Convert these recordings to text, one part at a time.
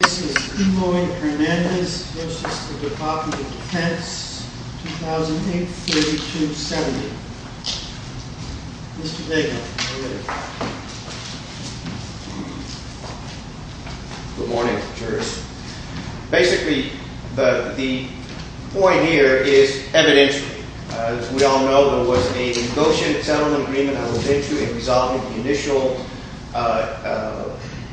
This is Cumoy-Hernandez, Justice of the Department of Defense, 2008-3270. Mr. Dagan, you may begin. Good morning, jurists. Basically, the point here is evidential. As we all know, there was a negotiated settlement agreement I was into in resolving the initial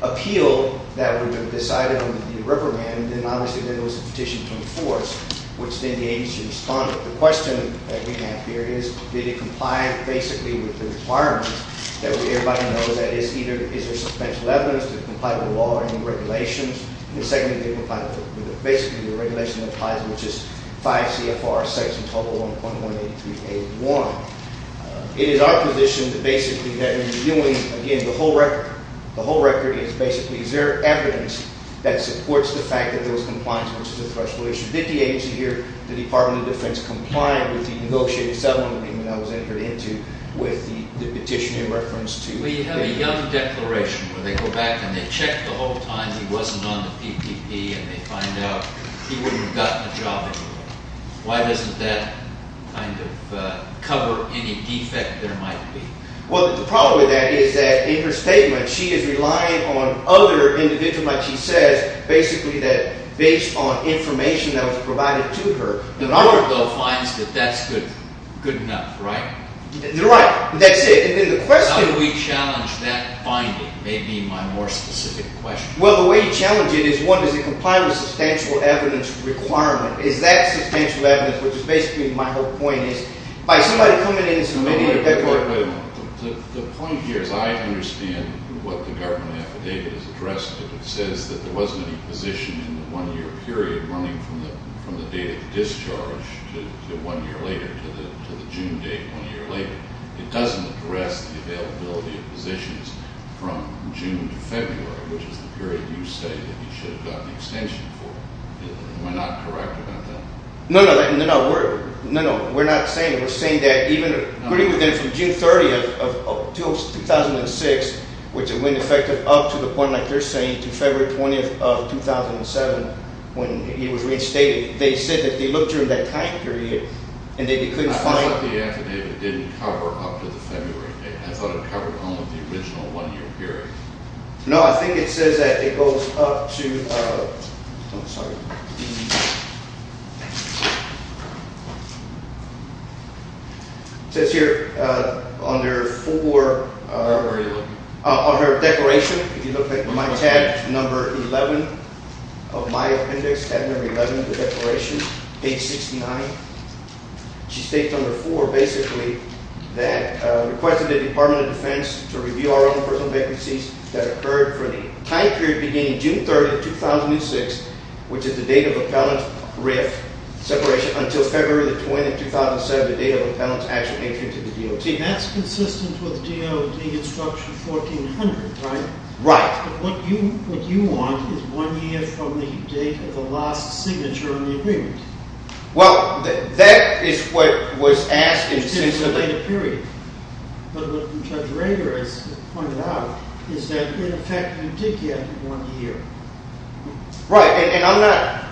appeal that had been decided on to be a reprimand. Then, obviously, there was a petition to enforce, which then the agency responded. The question that we have here is, did it comply, basically, with the requirements that everybody knows, that is, either is there substantial evidence to comply with the law or any regulations? And secondly, did it comply with basically the regulation that applies, which is 5 CFR sections, total 1.18381. It is our position that basically what we are doing, again, the whole record is basically is there evidence that supports the fact that there was compliance, which is a threshold issue. Did the agency here, the Department of Defense, comply with the negotiated settlement agreement I was entered into with the petition in reference to? Well, you have a young declaration where they go back and they check the whole time he wasn't on the PPP, and they find out he wouldn't have gotten a job anywhere. Why doesn't that kind of cover any defect there might be? Well, the problem with that is that in her statement, she is relying on other individuals, like she says, basically that based on information that was provided to her. The law, though, finds that that's good enough, right? Right. That's it. And then the question How do we challenge that finding may be my more specific question. Well, the way you challenge it is, one, does it comply with the substantial evidence requirement? Is that substantial evidence, which is basically my whole point is, by somebody coming in and submitting Wait a minute. The point here is I understand what the government affidavit is addressing. It says that there wasn't any position in the one-year period running from the date of discharge to one year later, to the June date one year later. It doesn't address the availability of positions from June to February, which is the period you say that he should have the extension for. Am I not correct about that? No, no. We're not saying that. We're saying that even from June 30th of 2006, which it went effective up to the point, like you're saying, to February 20th of 2007, when he was reinstated, they said that they looked during that time period and they couldn't find I thought the affidavit didn't cover up to the February date. I thought it covered only the original one-year period. No, I think it says that it goes up to It says here under four Where were you looking? Under declaration, if you look at my tab, number 11 of my appendix, tab number 11 of the declaration, page 69. She states under four basically that requested the Department of Defense to review our own personal vacancies that occurred from the time period beginning June 30th, 2006, which is the date of Appellant Riff separation until February 20th, 2007, the date of Appellant's actual entry into the DOT. That's consistent with DOD instruction 1400, right? Right. But what you want is one year from the date of the last signature on the agreement. Well, that is what was asked in But what Judge Rager has pointed out is that in effect, you did get one year. Right, and I'm not,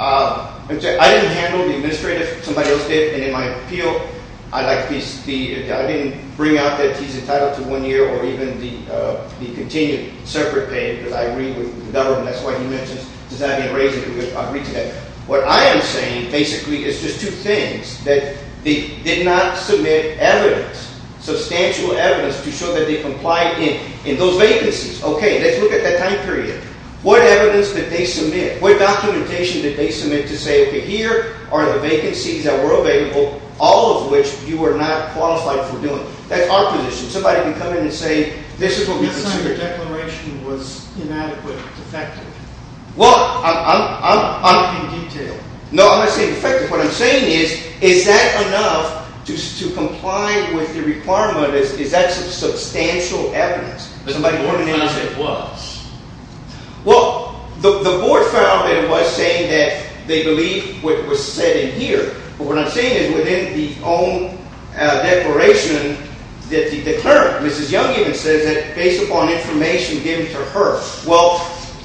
I didn't handle the administrative, somebody else did, and in my appeal, I didn't bring out that he's entitled to one year or even the continued separate pay because I agree with the government, that's why he mentions, because I didn't raise it, I agree to that. What I am saying, basically, is just two things, that they did not submit evidence, substantial evidence to show that they complied in those vacancies. Okay, let's look at that time period. What evidence did they submit? What documentation did they submit to say, okay, here are the vacancies that were available, all of which you are not qualified for doing. That's our position. Somebody can come in and say, this is what we consider Your declaration was inadequate, defective. Well, I'm... In detail. No, I'm not saying defective, what I'm saying is, is that enough to comply with the requirement, is that substantial evidence? Somebody can come in and say it was. Well, the board found that it was saying that they believe what was said in here, but what I'm saying is within the own declaration, the clerk, Mrs. Young, even says that based upon information given to her. Well,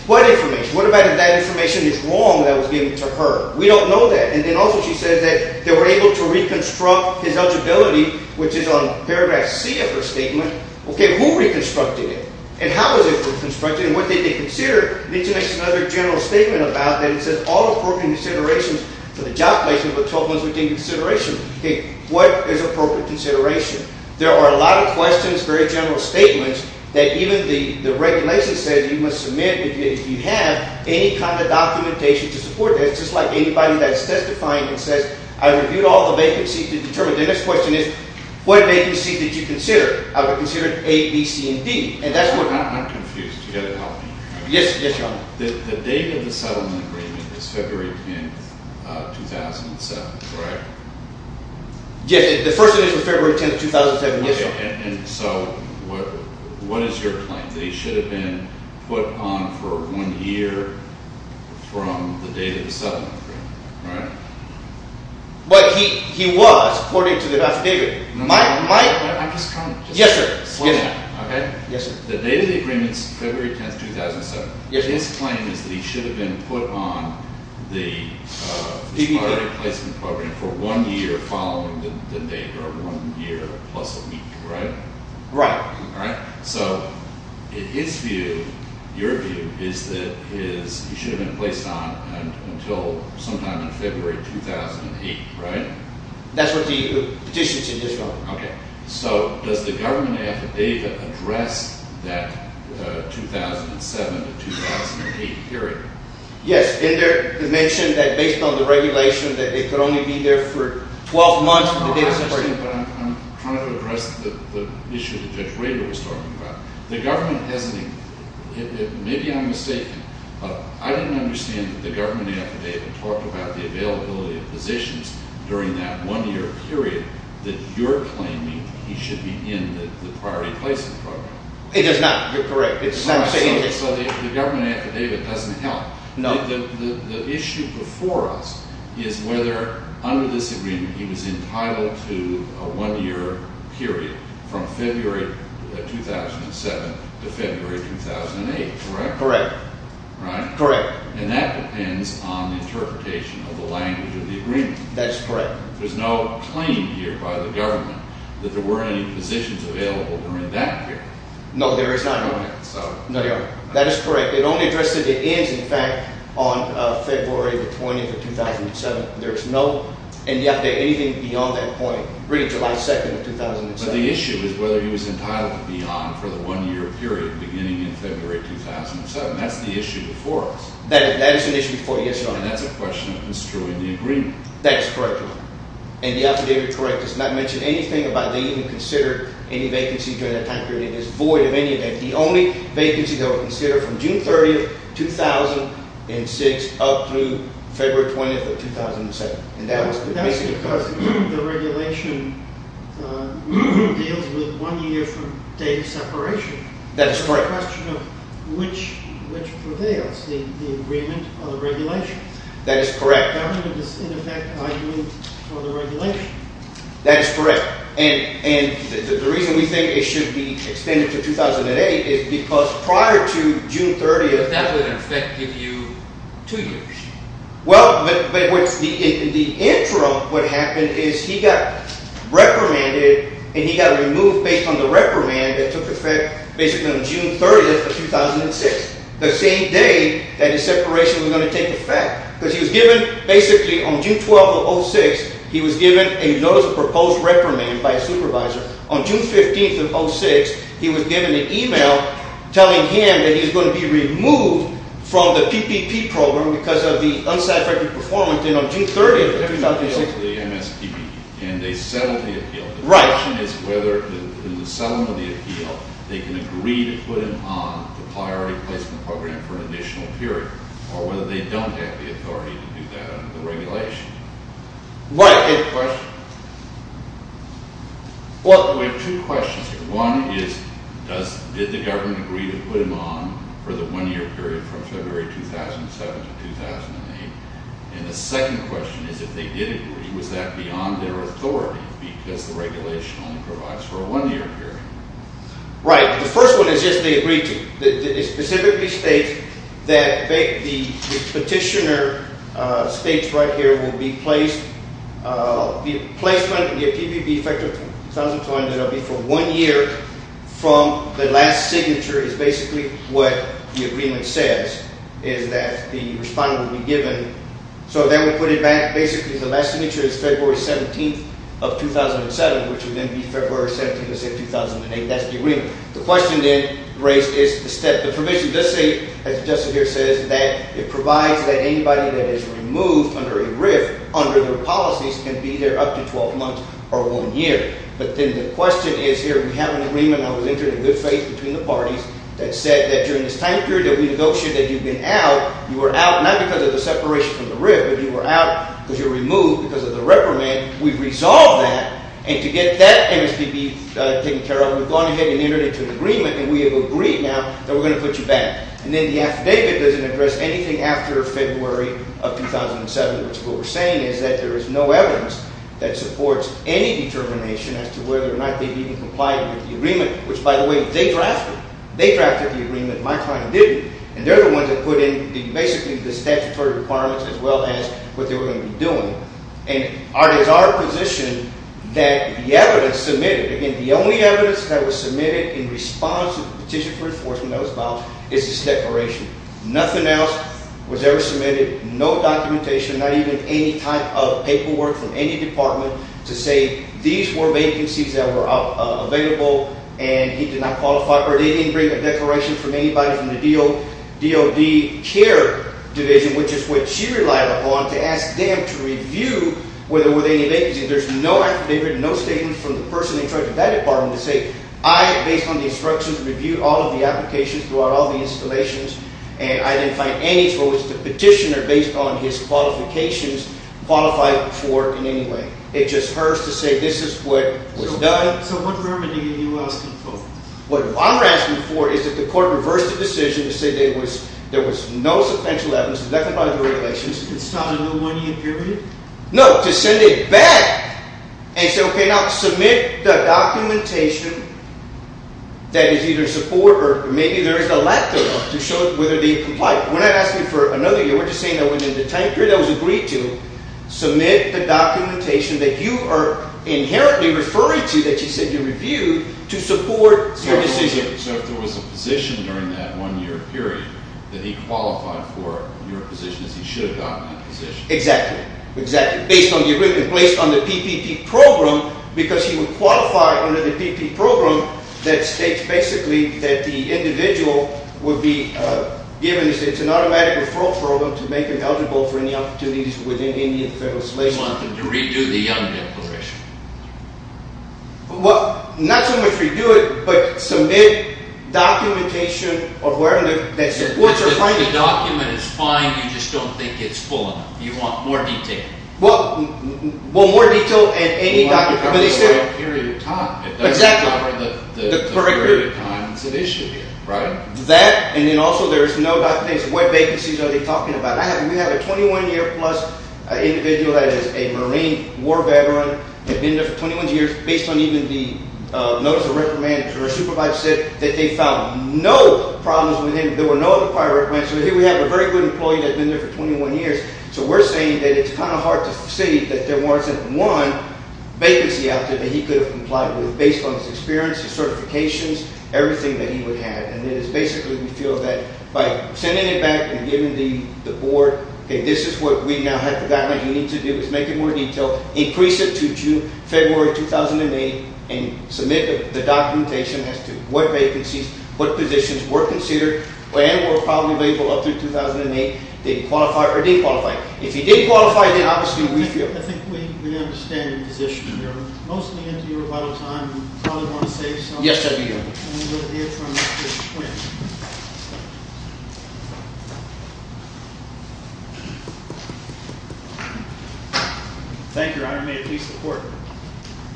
what information? What about if that information is wrong that was given to her? We don't know that. And then also she says that they were able to reconstruct his eligibility, which is on paragraph C of her statement. Okay, who reconstructed it? And how was it reconstructed? And what did they consider? Then she makes another general statement about that. It says all appropriate considerations for the job placement were told once we did consideration. Okay, what is appropriate consideration? There are a lot of questions, very general statements, that even the regulation says that you must submit if you have any kind of documentation to support that, just like anybody that's testifying and says, I reviewed all the vacancies to determine. The next question is, what vacancies did you consider? I would consider A, B, C, and D. I'm confused. You've got to help me. Yes, Your Honor. The date of the settlement agreement is February 10, 2007, correct? Yes, the first edition was February 10, 2007. Yes, Your Honor. And so what is your claim? That he should have been put on for one year from the date of the settlement agreement, right? Well, he was, according to the draft agreement. No, no, no, no. Mike, Mike. I just can't. Yes, sir. Yes, sir. Okay? Yes, sir. The date of the agreement is February 10, 2007. Yes, sir. His claim is that he should have been put on the employee placement program for one year following the date, or one year plus a week, right? Right. Right? So in his view, your view, is that he should have been placed on until sometime in February 2008, right? That's what the petition says, Your Honor. Okay. So does the government affidavit address that 2007 to 2008 period? Yes. In there it mentioned that based on the regulation that it could only be there for 12 months from the date of the agreement. I understand, but I'm trying to address the issue that Judge Rader was talking about. The government has, maybe I'm mistaken, but I didn't understand that the government affidavit talked about the availability of positions during that one-year period that you're claiming he should be in the priority placement program. It does not. You're correct. It's not stated. So the government affidavit doesn't help. No. The issue before us is whether under this agreement he was entitled to a one-year period from February 2007 to February 2008, correct? Correct. Right? Correct. And that depends on the interpretation of the language of the agreement. That's correct. There's no claim here by the government that there weren't any positions available during that period. No, there is not. No. No, Your Honor. That is correct. It only addressed that it ends, in fact, on February the 20th of 2007. There is no affidavit, anything beyond that point, really July 2nd of 2007. But the issue is whether he was entitled to be on for the one-year period beginning in February 2007. That's the issue before us. That is an issue before you, yes, Your Honor. And that's a question of who's true in the agreement. That is correct, Your Honor. And the affidavit, correct, does not mention anything about they even considered any vacancy during that time period. It is void of any of that. It is the only vacancy that was considered from June 30th, 2006 up through February 20th of 2007. And that was basically the case. That's because the regulation deals with one year from date of separation. That is correct. It's a question of which prevails, the agreement or the regulation. That is correct. The government is, in effect, arguing for the regulation. That is correct. And the reason we think it should be extended to 2008 is because prior to June 30th… That would, in effect, give you two years. Well, the interim, what happened is he got reprimanded, and he got removed based on the reprimand that took effect basically on June 30th of 2006, the same day that the separation was going to take effect. Because he was given, basically, on June 12th of 2006, he was given a notice of proposed reprimand by a supervisor. On June 15th of 2006, he was given an email telling him that he was going to be removed from the PPP program because of the unsatisfactory performance. And on June 30th of 2006… It was basically MSPB, and they settled the appeal. Right. The question is whether, in the settlement of the appeal, they can agree to put him on the priority placement program for an additional period, or whether they don't have the authority to do that under the regulation. What a good question. We have two questions here. One is, did the government agree to put him on for the one-year period from February 2007 to 2008? And the second question is, if they did agree, was that beyond their authority, because the regulation only provides for a one-year period? Right. The first one is, yes, they agreed to it. It specifically states that the petitioner states right here, will be placed on the PPP effective 2020, that it will be for one year from the last signature, is basically what the agreement says, is that the respondent will be given… So then we put it back. Basically, the last signature is February 17th of 2007, which would then be February 17th of 2008. That's the agreement. The question then raised is, the provision does say, as Justin here says, that it provides that anybody that is removed under a RIF, under their policies, can be there up to 12 months or one year. But then the question is here, we have an agreement, and I was entered in good faith between the parties, that said that during this time period that we negotiated that you've been out, you were out not because of the separation from the RIF, but you were out because you were removed because of the reprimand. And we resolved that, and to get that MSPB taken care of, we've gone ahead and entered into an agreement, and we have agreed now that we're going to put you back. And then the affidavit doesn't address anything after February of 2007, which is what we're saying is that there is no evidence that supports any determination as to whether or not they even complied with the agreement, which, by the way, they drafted. They drafted the agreement. My client didn't. And they're the ones that put in basically the statutory requirements as well as what they were going to be doing. And it is our position that the evidence submitted, and the only evidence that was submitted in response to the petition for enforcement that was filed is this declaration. Nothing else was ever submitted, no documentation, not even any type of paperwork from any department to say these were vacancies that were available and he did not qualify, or they didn't bring a declaration from anybody from the DOD care division, which is what she relied upon to ask them to review whether there were any vacancies. There's no affidavit, no statement from the person in charge of that department to say I, based on the instructions, reviewed all of the applications, throughout all the installations, and I didn't find any to which the petitioner, based on his qualifications, qualified for in any way. It just hurts to say this is what was done. So what remedy are you asking for? What I'm asking for is that the court reverse the decision to say there was no substantial evidence to declare violations. It's not a new one-year period? No, to send it back and say, okay, now, submit the documentation that is either support or maybe there is a lack thereof to show whether they comply. We're not asking for another year. We're just saying that within the time period that was agreed to, submit the documentation that you are inherently referring to, that you said you reviewed, to support your decision. So if there was a position during that one-year period that he qualified for your position, he should have gotten that position. Exactly. Based on the PPP program, because he would qualify under the PPP program that states basically that the individual would be given, it's an automatic referral program to make him eligible for any opportunities within Indian federal slavery. You want them to redo the Young Declaration? Well, not so much redo it, but submit documentation of where the supports are finding. If the document is fine, you just don't think it's full enough. You want more detail. Well, more detail in any document. It's a long period of time. Exactly. The period of time that's at issue here, right? That, and then also there is no documentation. What vacancies are they talking about? We have a 21-year-plus individual that is a Marine war veteran, had been there for 21 years, based on even the notice of recommendation or a supervisor said that they found no problems with him. There were no other prior recommendations. So here we have a very good employee that had been there for 21 years. So we're saying that it's kind of hard to see that there wasn't one vacancy out there that he could have complied with based on his experience, his certifications, everything that he would have. And it is basically we feel that by sending it back and giving the board, okay, this is what we now have the document. You need to do is make it more detailed, increase it to June, February, 2008, and submit the documentation as to what vacancies, what positions were considered and were probably available up through 2008, didn't qualify or didn't qualify. If he didn't qualify, then obviously we feel. I think we understand your position. We're mostly into your vital time. You probably want to say something. Yes, I do. And we'll hear from Mr. Quinn. Thank you, Your Honor. May it please the court.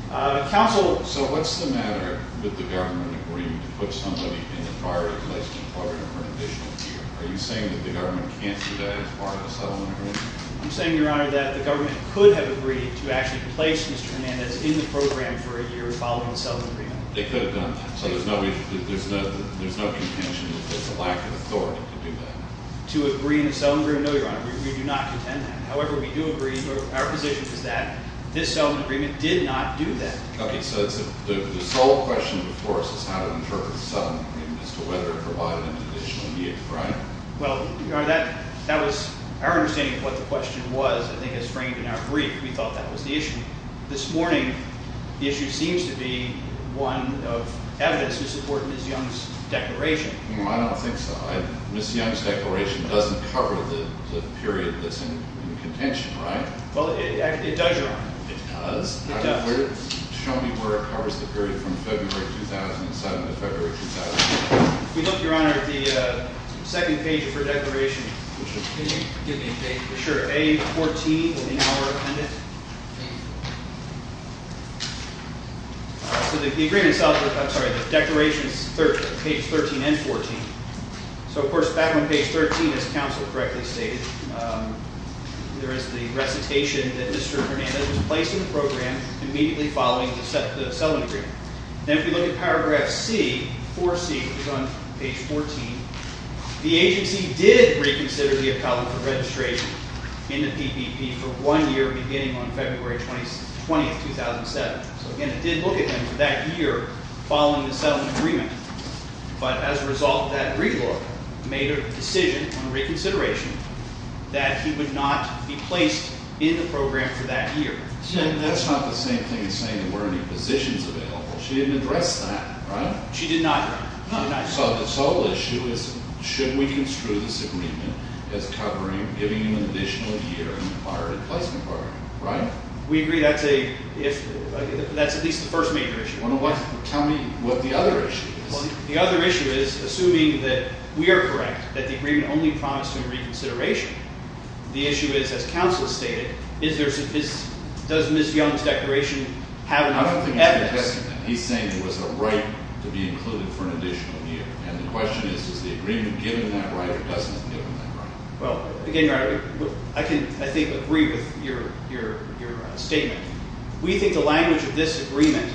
Counsel. So what's the matter with the government agreeing to put somebody in the priority placement program for an additional year? Are you saying that the government can't do that as part of the settlement agreement? I'm saying, Your Honor, that the government could have agreed to actually place Mr. Hernandez in the program for a year following the settlement agreement. They could have done that. So there's no contention. There's a lack of authority to do that. To agree in the settlement agreement? No, Your Honor. We do not contend that. However, we do agree, our position is that this settlement agreement did not do that. Okay, so the sole question, of course, is how to interpret the settlement agreement as to whether it provided an additional year, right? Well, Your Honor, that was our understanding of what the question was, I think, as framed in our brief. We thought that was the issue. This morning, the issue seems to be one of evidence to support Ms. Young's declaration. I don't think so. Ms. Young's declaration doesn't cover the period that's in contention, right? Well, it does, Your Honor. It does? It does. Show me where it covers the period from February 2007 to February 2008. We looked, Your Honor, at the second page of her declaration. Could you give me a page? Sure. A14, the hour appended. So the agreement itself, I'm sorry, the declaration's page 13 and 14. So, of course, back on page 13, as counsel correctly stated, there is the recitation that Mr. Hernandez was placed in the program immediately following the settlement agreement. Then if we look at paragraph C, 4C, which is on page 14, the agency did reconsider the appellant for registration in the PPP for one year beginning on February 20, 2007. So, again, it did look at him for that year following the settlement agreement. But as a result, that re-lawyer made a decision on reconsideration that he would not be placed in the program for that year. That's not the same thing as saying there weren't any positions available. She didn't address that, right? She did not, Your Honor. So the sole issue is should we construe this agreement as covering giving him an additional year in the pirated placement program, right? We agree that's at least the first major issue. Tell me what the other issue is. Well, the other issue is assuming that we are correct that the agreement only promised him reconsideration. The issue is, as counsel stated, does Ms. Young's declaration have an evidence? I don't think it's a testament. He's saying there was a right to be included for an additional year. And the question is is the agreement given that right or doesn't it give him that right? I can, I think, agree with your statement. We think the language of this agreement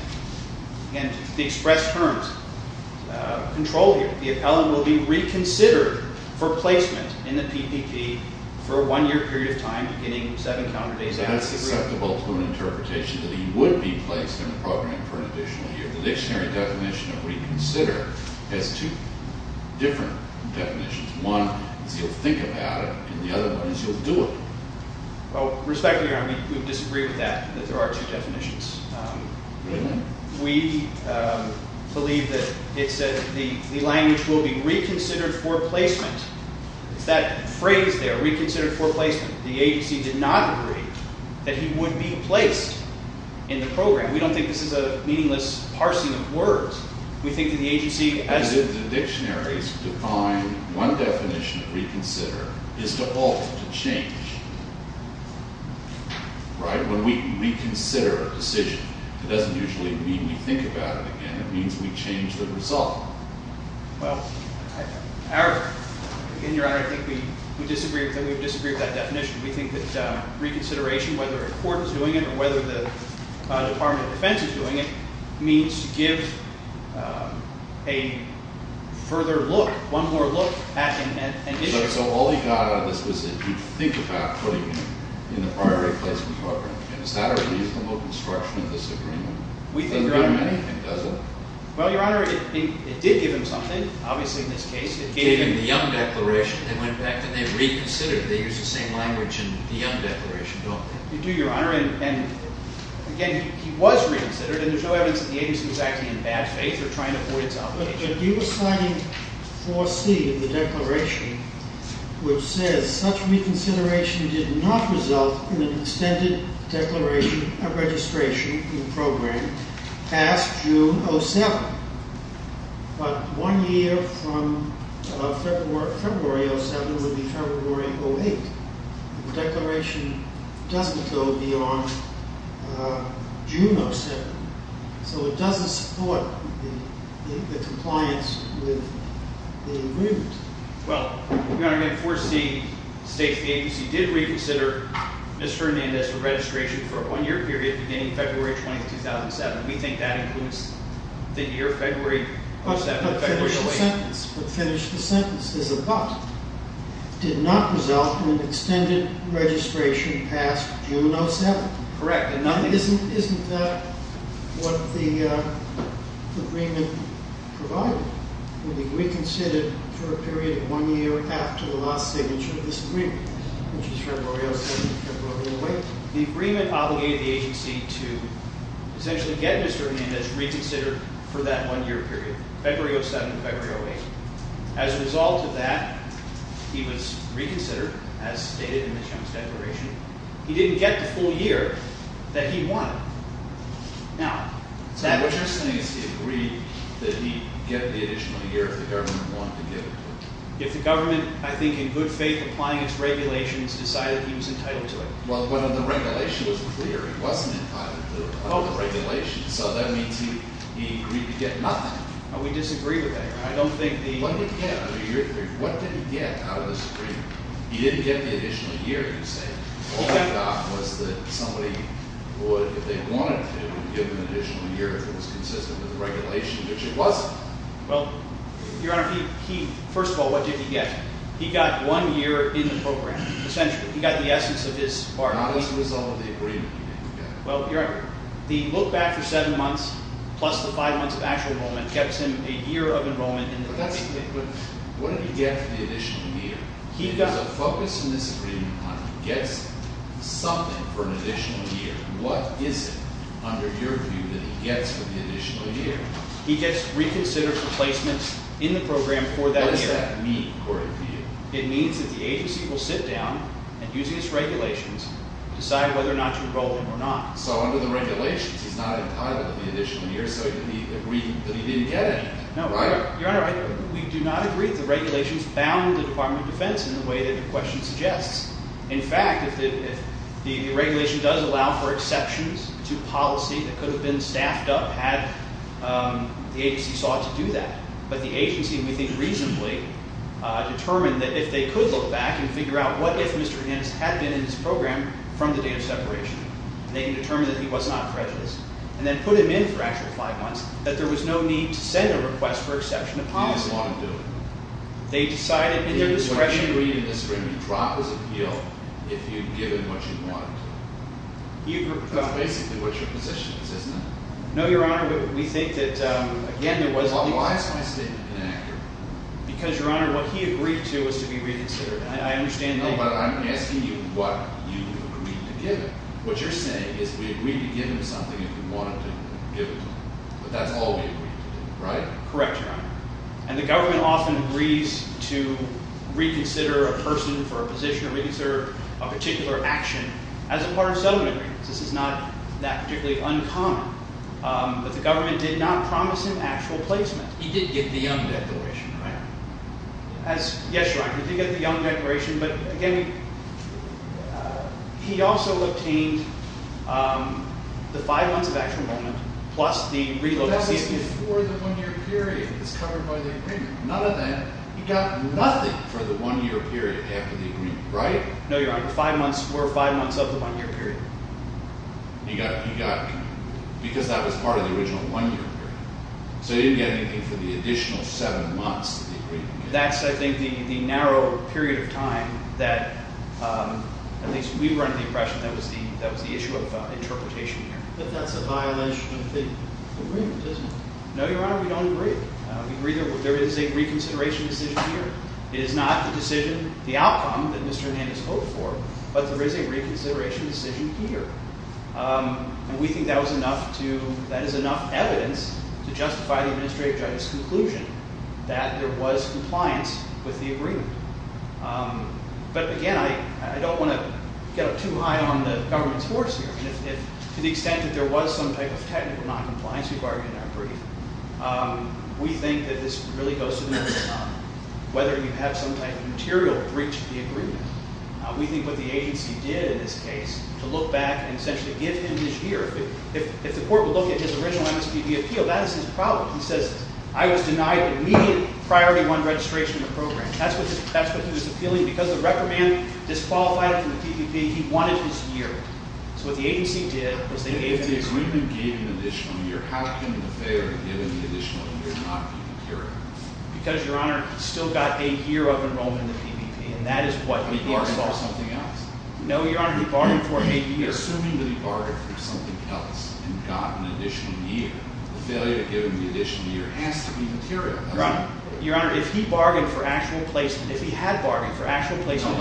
and the expressed terms control here. The appellant will be reconsidered for placement in the PPP for a one-year period of time beginning seven counter days after the agreement. And that's susceptible to an interpretation that he would be placed in the program for an additional year. The dictionary definition of reconsider has two different definitions. One is he'll think about it and the other one is he'll do it. Well, respectfully, Your Honor, we would disagree with that, that there are two definitions. We believe that it says the language will be reconsidered for placement. It's that phrase there, reconsidered for placement. The agency did not agree that he would be placed in the program. We don't think this is a meaningless parsing of words. We think that the agency has to... The dictionaries define one definition of reconsider is to alter, to change. Right? When we reconsider a decision, it doesn't usually mean we think about it again. It means we change the result. Well, in your honor, I think we disagree with that definition. We think that reconsideration, whether a court is doing it or whether the Department of Defense is doing it, means to give a further look, one more look at an issue. So all he got out of this was that he'd think about putting him in the prior placement program. And is that a reasonable construction of this agreement? We think, your honor... Does it? Well, your honor, it did give him something, obviously in this case. It gave him the Young Declaration. They went back and they reconsidered. They use the same language in the Young Declaration, don't they? They do, your honor. And again, he was reconsidered and there's no evidence that the agency was acting in bad faith or trying to avoid its alteration. But you were citing 4C in the declaration which says, such reconsideration did not result in an extended declaration of registration in the program past June 07. But one year from February 07 would be February 08. The declaration doesn't go beyond June 07. So it doesn't support the compliance with the agreement. Well, your honor, 4C states the agency did reconsider Mr. Hernandez's registration for a one-year period beginning February 20, 2007. We think that includes the year February 07. But finish the sentence. But finish the sentence. There's a but. Did not result in an extended registration past June 07. Correct. Isn't that what the agreement provided? That Mr. Hernandez would be reconsidered for a period of one year after the last signature of this agreement, which is February 07 and February 08. The agreement obligated the agency to essentially get Mr. Hernandez reconsidered for that one-year period, February 07 and February 08. As a result of that, he was reconsidered, as stated in the Jones declaration. He didn't get the full year that he wanted. So what you're saying is he agreed that he'd get the additional year if the government wanted to give it to him? If the government, I think in good faith, applying its regulations, decided he was entitled to it. Well, when the regulation was clear, he wasn't entitled to the regulation. So that means he agreed to get nothing. We disagree with that. What did he get out of this agreement? He didn't get the additional year, you say. All he got was that somebody would, if they wanted to, give him an additional year if it was consistent with the regulation, which it wasn't. Well, Your Honor, first of all, what did he get? He got one year in the program, essentially. He got the essence of his bargaining. Not as a result of the agreement you made. Well, Your Honor, the look-back for seven months plus the five months of actual enrollment gets him a year of enrollment. But what did he get for the additional year? The focus in this agreement on if he gets something for an additional year, what is it, under your view, that he gets for the additional year? He gets reconsidered replacements in the program for that year. What does that mean, according to you? It means that the agency will sit down and, using its regulations, decide whether or not to enroll him or not. So under the regulations, he's not entitled to the additional year, so he agreed that he didn't get anything. No. Your Honor, we do not agree with the regulations bound in the Department of Defense in the way that your question suggests. In fact, if the regulation does allow for exceptions to policy that could have been staffed up, the agency sought to do that. But the agency, we think, reasonably determined that if they could look back and figure out what if Mr. Hans had been in this program from the date of separation, they can determine that he was not prejudiced and then put him in for actual five months, that there was no need to send a request for exception to policy. He just wanted to do it. They decided in their discretion... What you're reading in the screen, you drop his appeal if you give him what you want. That's basically what your position is, isn't it? No, Your Honor, we think that... Again, why is my statement inaccurate? Because, Your Honor, what he agreed to was to be reconsidered. I understand that... No, but I'm asking you what you agreed to give him. What you're saying is we agreed to give him something if we wanted to give it to him. But that's all we agreed to, right? Correct, Your Honor. And the government often agrees to reconsider a person for a position, or reconsider a particular action as a part of settlement agreements. This is not that particularly uncommon. But the government did not promise him actual placement. He did get the Young Declaration, right? Yes, Your Honor, he did get the Young Declaration, but again, he also obtained the five months of actual enrollment plus the reload... But that was before the one-year period that was covered by the agreement. None of that... He got nothing for the one-year period after the agreement, right? No, Your Honor. Four or five months of the one-year period. He got... Because that was part of the original one-year period. So he didn't get anything for the additional seven months of the agreement. That's, I think, the narrow period of time that, at least we were under the impression that was the issue of interpretation here. But that's a violation of the agreement, isn't it? No, Your Honor, we don't agree. There is a reconsideration decision here. It is not the decision, the outcome, that Mr. Hernandez hoped for, but there is a reconsideration decision here. And we think that was enough to... That is enough evidence to justify the Administrative Judge's conclusion that there was compliance with the agreement. But again, I don't want to get up too high on the government's horse here. To the extent that there was some type of technical noncompliance, we've argued in our brief, we think that this really goes to the middle of the tunnel. Whether you have some type of material breach of the agreement, we think what the agency did in this case to look back and essentially give him his year... If the court would look at his original MSPP appeal, that is his problem. He says, I was denied immediate Priority 1 registration in the program. That's what he was appealing. Because the reprimand disqualified him from the PPP, he wanted his year. So what the agency did was they gave him... If the agreement gave him an additional year, how can the failure to give him the additional year not be material? Because, Your Honor, he still got a year of enrollment in the PPP. And that is what we... He bargained for something else. No, Your Honor, he bargained for a year. Assuming that he bargained for something else and got an additional year, the failure to give him the additional year has to be material. Your Honor, if he bargained for actual placement... If he had bargained for actual placement...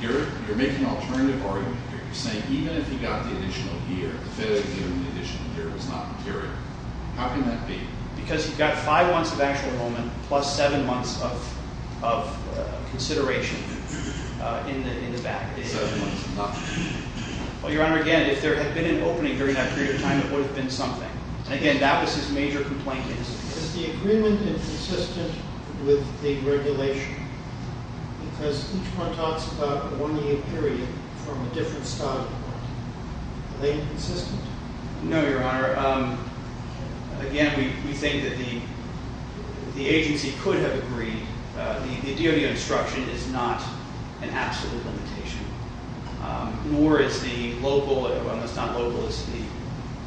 You're making an alternative argument here. You're saying even if he got the additional year, the failure to give him the additional year is not material. How can that be? Because he got five months of actual enrollment plus seven months of consideration in the back. Seven months of nothing. Well, Your Honor, again, if there had been an opening during that period of time, it would have been something. Again, that was his major complaint. Is the agreement inconsistent with the regulation? Because each one talks about a one-year period from a different study. Are they inconsistent? No, Your Honor. Again, we think that the agency could have agreed. The DOD instruction is not an absolute limitation. Nor is the local... Well, it's not local. It's the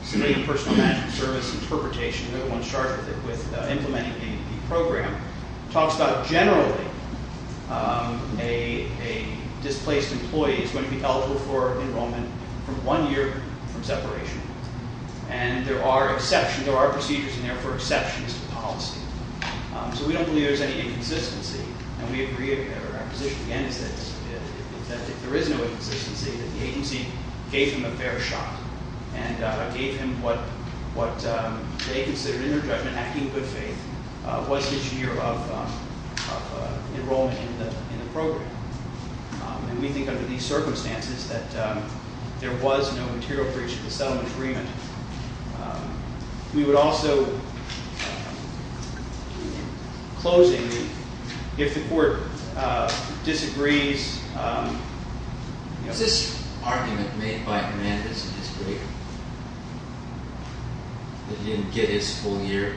State Personal Management Service interpretation. No one's charged with implementing the program. It talks about generally a displaced employee is going to be eligible for enrollment from one year from separation. And there are exceptions. There are procedures, and therefore exceptions to policy. So we don't believe there's any inconsistency. And we agree. Our position, again, is that if there is no inconsistency, that the agency gave him a fair shot and gave him what they considered, in their judgment, acting in good faith, was his year of enrollment in the program. And we think under these circumstances that there was no material breach of the settlement agreement. We would also, in closing, if the Court disagrees... Is this argument made by a man that's a disagreeer, that he didn't get his full year?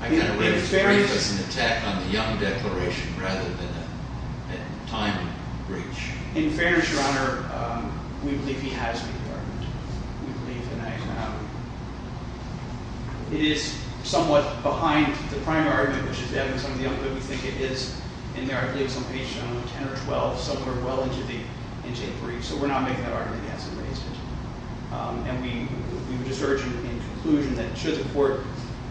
I kind of read it as an attack on the Young Declaration rather than a time breach. In fairness, Your Honor, we believe he has made the argument. We believe that... It is somewhat behind the primary argument, which is evidence on the young, but we think it is in there. I believe it's on page 10 or 12, somewhere well into the breach. So we're not making that argument, as it may seem. And we would just urge you in conclusion that should the Court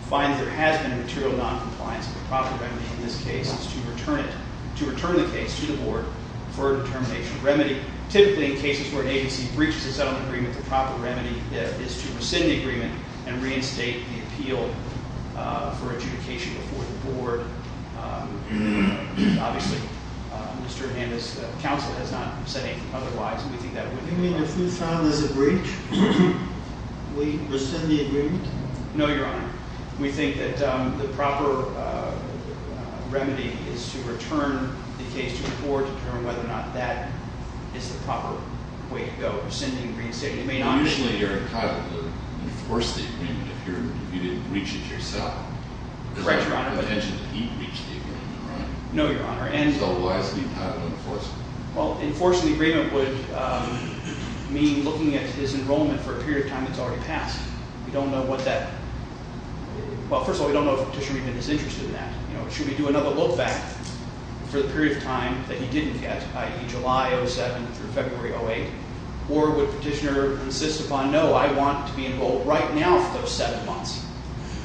find that there has been a material noncompliance of the proper remedy in this case, it's to return it, to return the case to the Board for a determination of remedy. Typically, in cases where an agency breaches a settlement agreement, the proper remedy is to rescind the agreement and reinstate the appeal for adjudication before the Board. Obviously, Mr. Hernandez's counsel is not saying otherwise, and we think that would be... You mean if we found there's a breach, we rescind the agreement? No, Your Honor. We think that the proper remedy is to return the case to the Board to determine whether or not that is the proper way to go. Rescinding, reinstating, it may not be... Usually, you're entitled to enforce the agreement if you didn't breach it yourself. The intention is that he breached the agreement, right? No, Your Honor. So why is he not enforcing it? Well, enforcing the agreement would mean looking at his enrollment for a period of time that's already passed. We don't know what that... Well, first of all, we don't know if Petitioner even is interested in that. Should we do another look-back for the period of time that he didn't get, i.e., July 2007 through February 2008, or would Petitioner insist upon, no, I want to be enrolled right now for those seven months?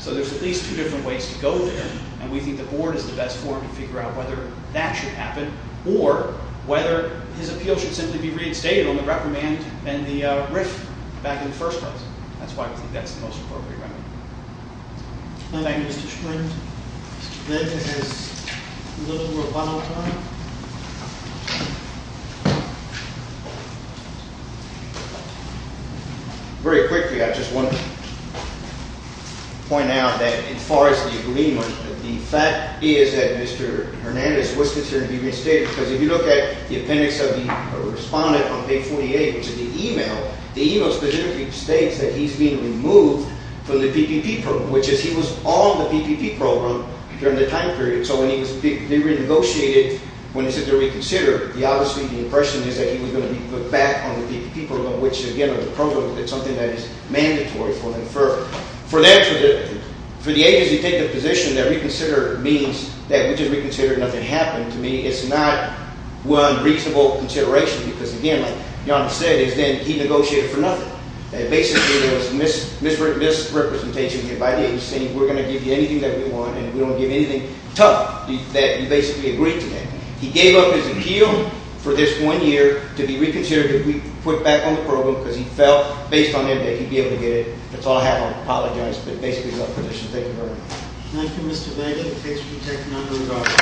So there's at least two different ways to go there, and we think the Board is the best forum to figure out whether that should happen or whether his appeal should simply be reinstated on the reprimand and the riff back in the first place. That's why we think that's the most appropriate remedy. Good night, Mr. Schmidt. Mr. Flint has his little rebuttal time. Very quickly, I just want to point out that as far as the agreement, the fact is that Mr. Hernandez was considered to be reinstated because if you look at the appendix of the respondent on page 48, which is the email, the email specifically states that he's being removed from the PPP program, which is he was on the PPP program during the time period. So when he was renegotiated, when he said to reconsider, obviously the impression is that he was going to be put back on the PPP program, which, again, on the program, it's something that is mandatory for them. For the agency to take the position that reconsider means that we just reconsidered and nothing happened, to me, it's not one reasonable consideration because, again, like Jana said, he negotiated for nothing. It basically was misrepresentation here by the agency. We're going to give you anything that we want and we don't give anything tough that you basically agreed to that. He gave up his appeal for this one year to be reconsidered, to be put back on the program because he felt based on him that he'd be able to get it. That's all I have. I apologize. But basically he left the position. Thank you very much.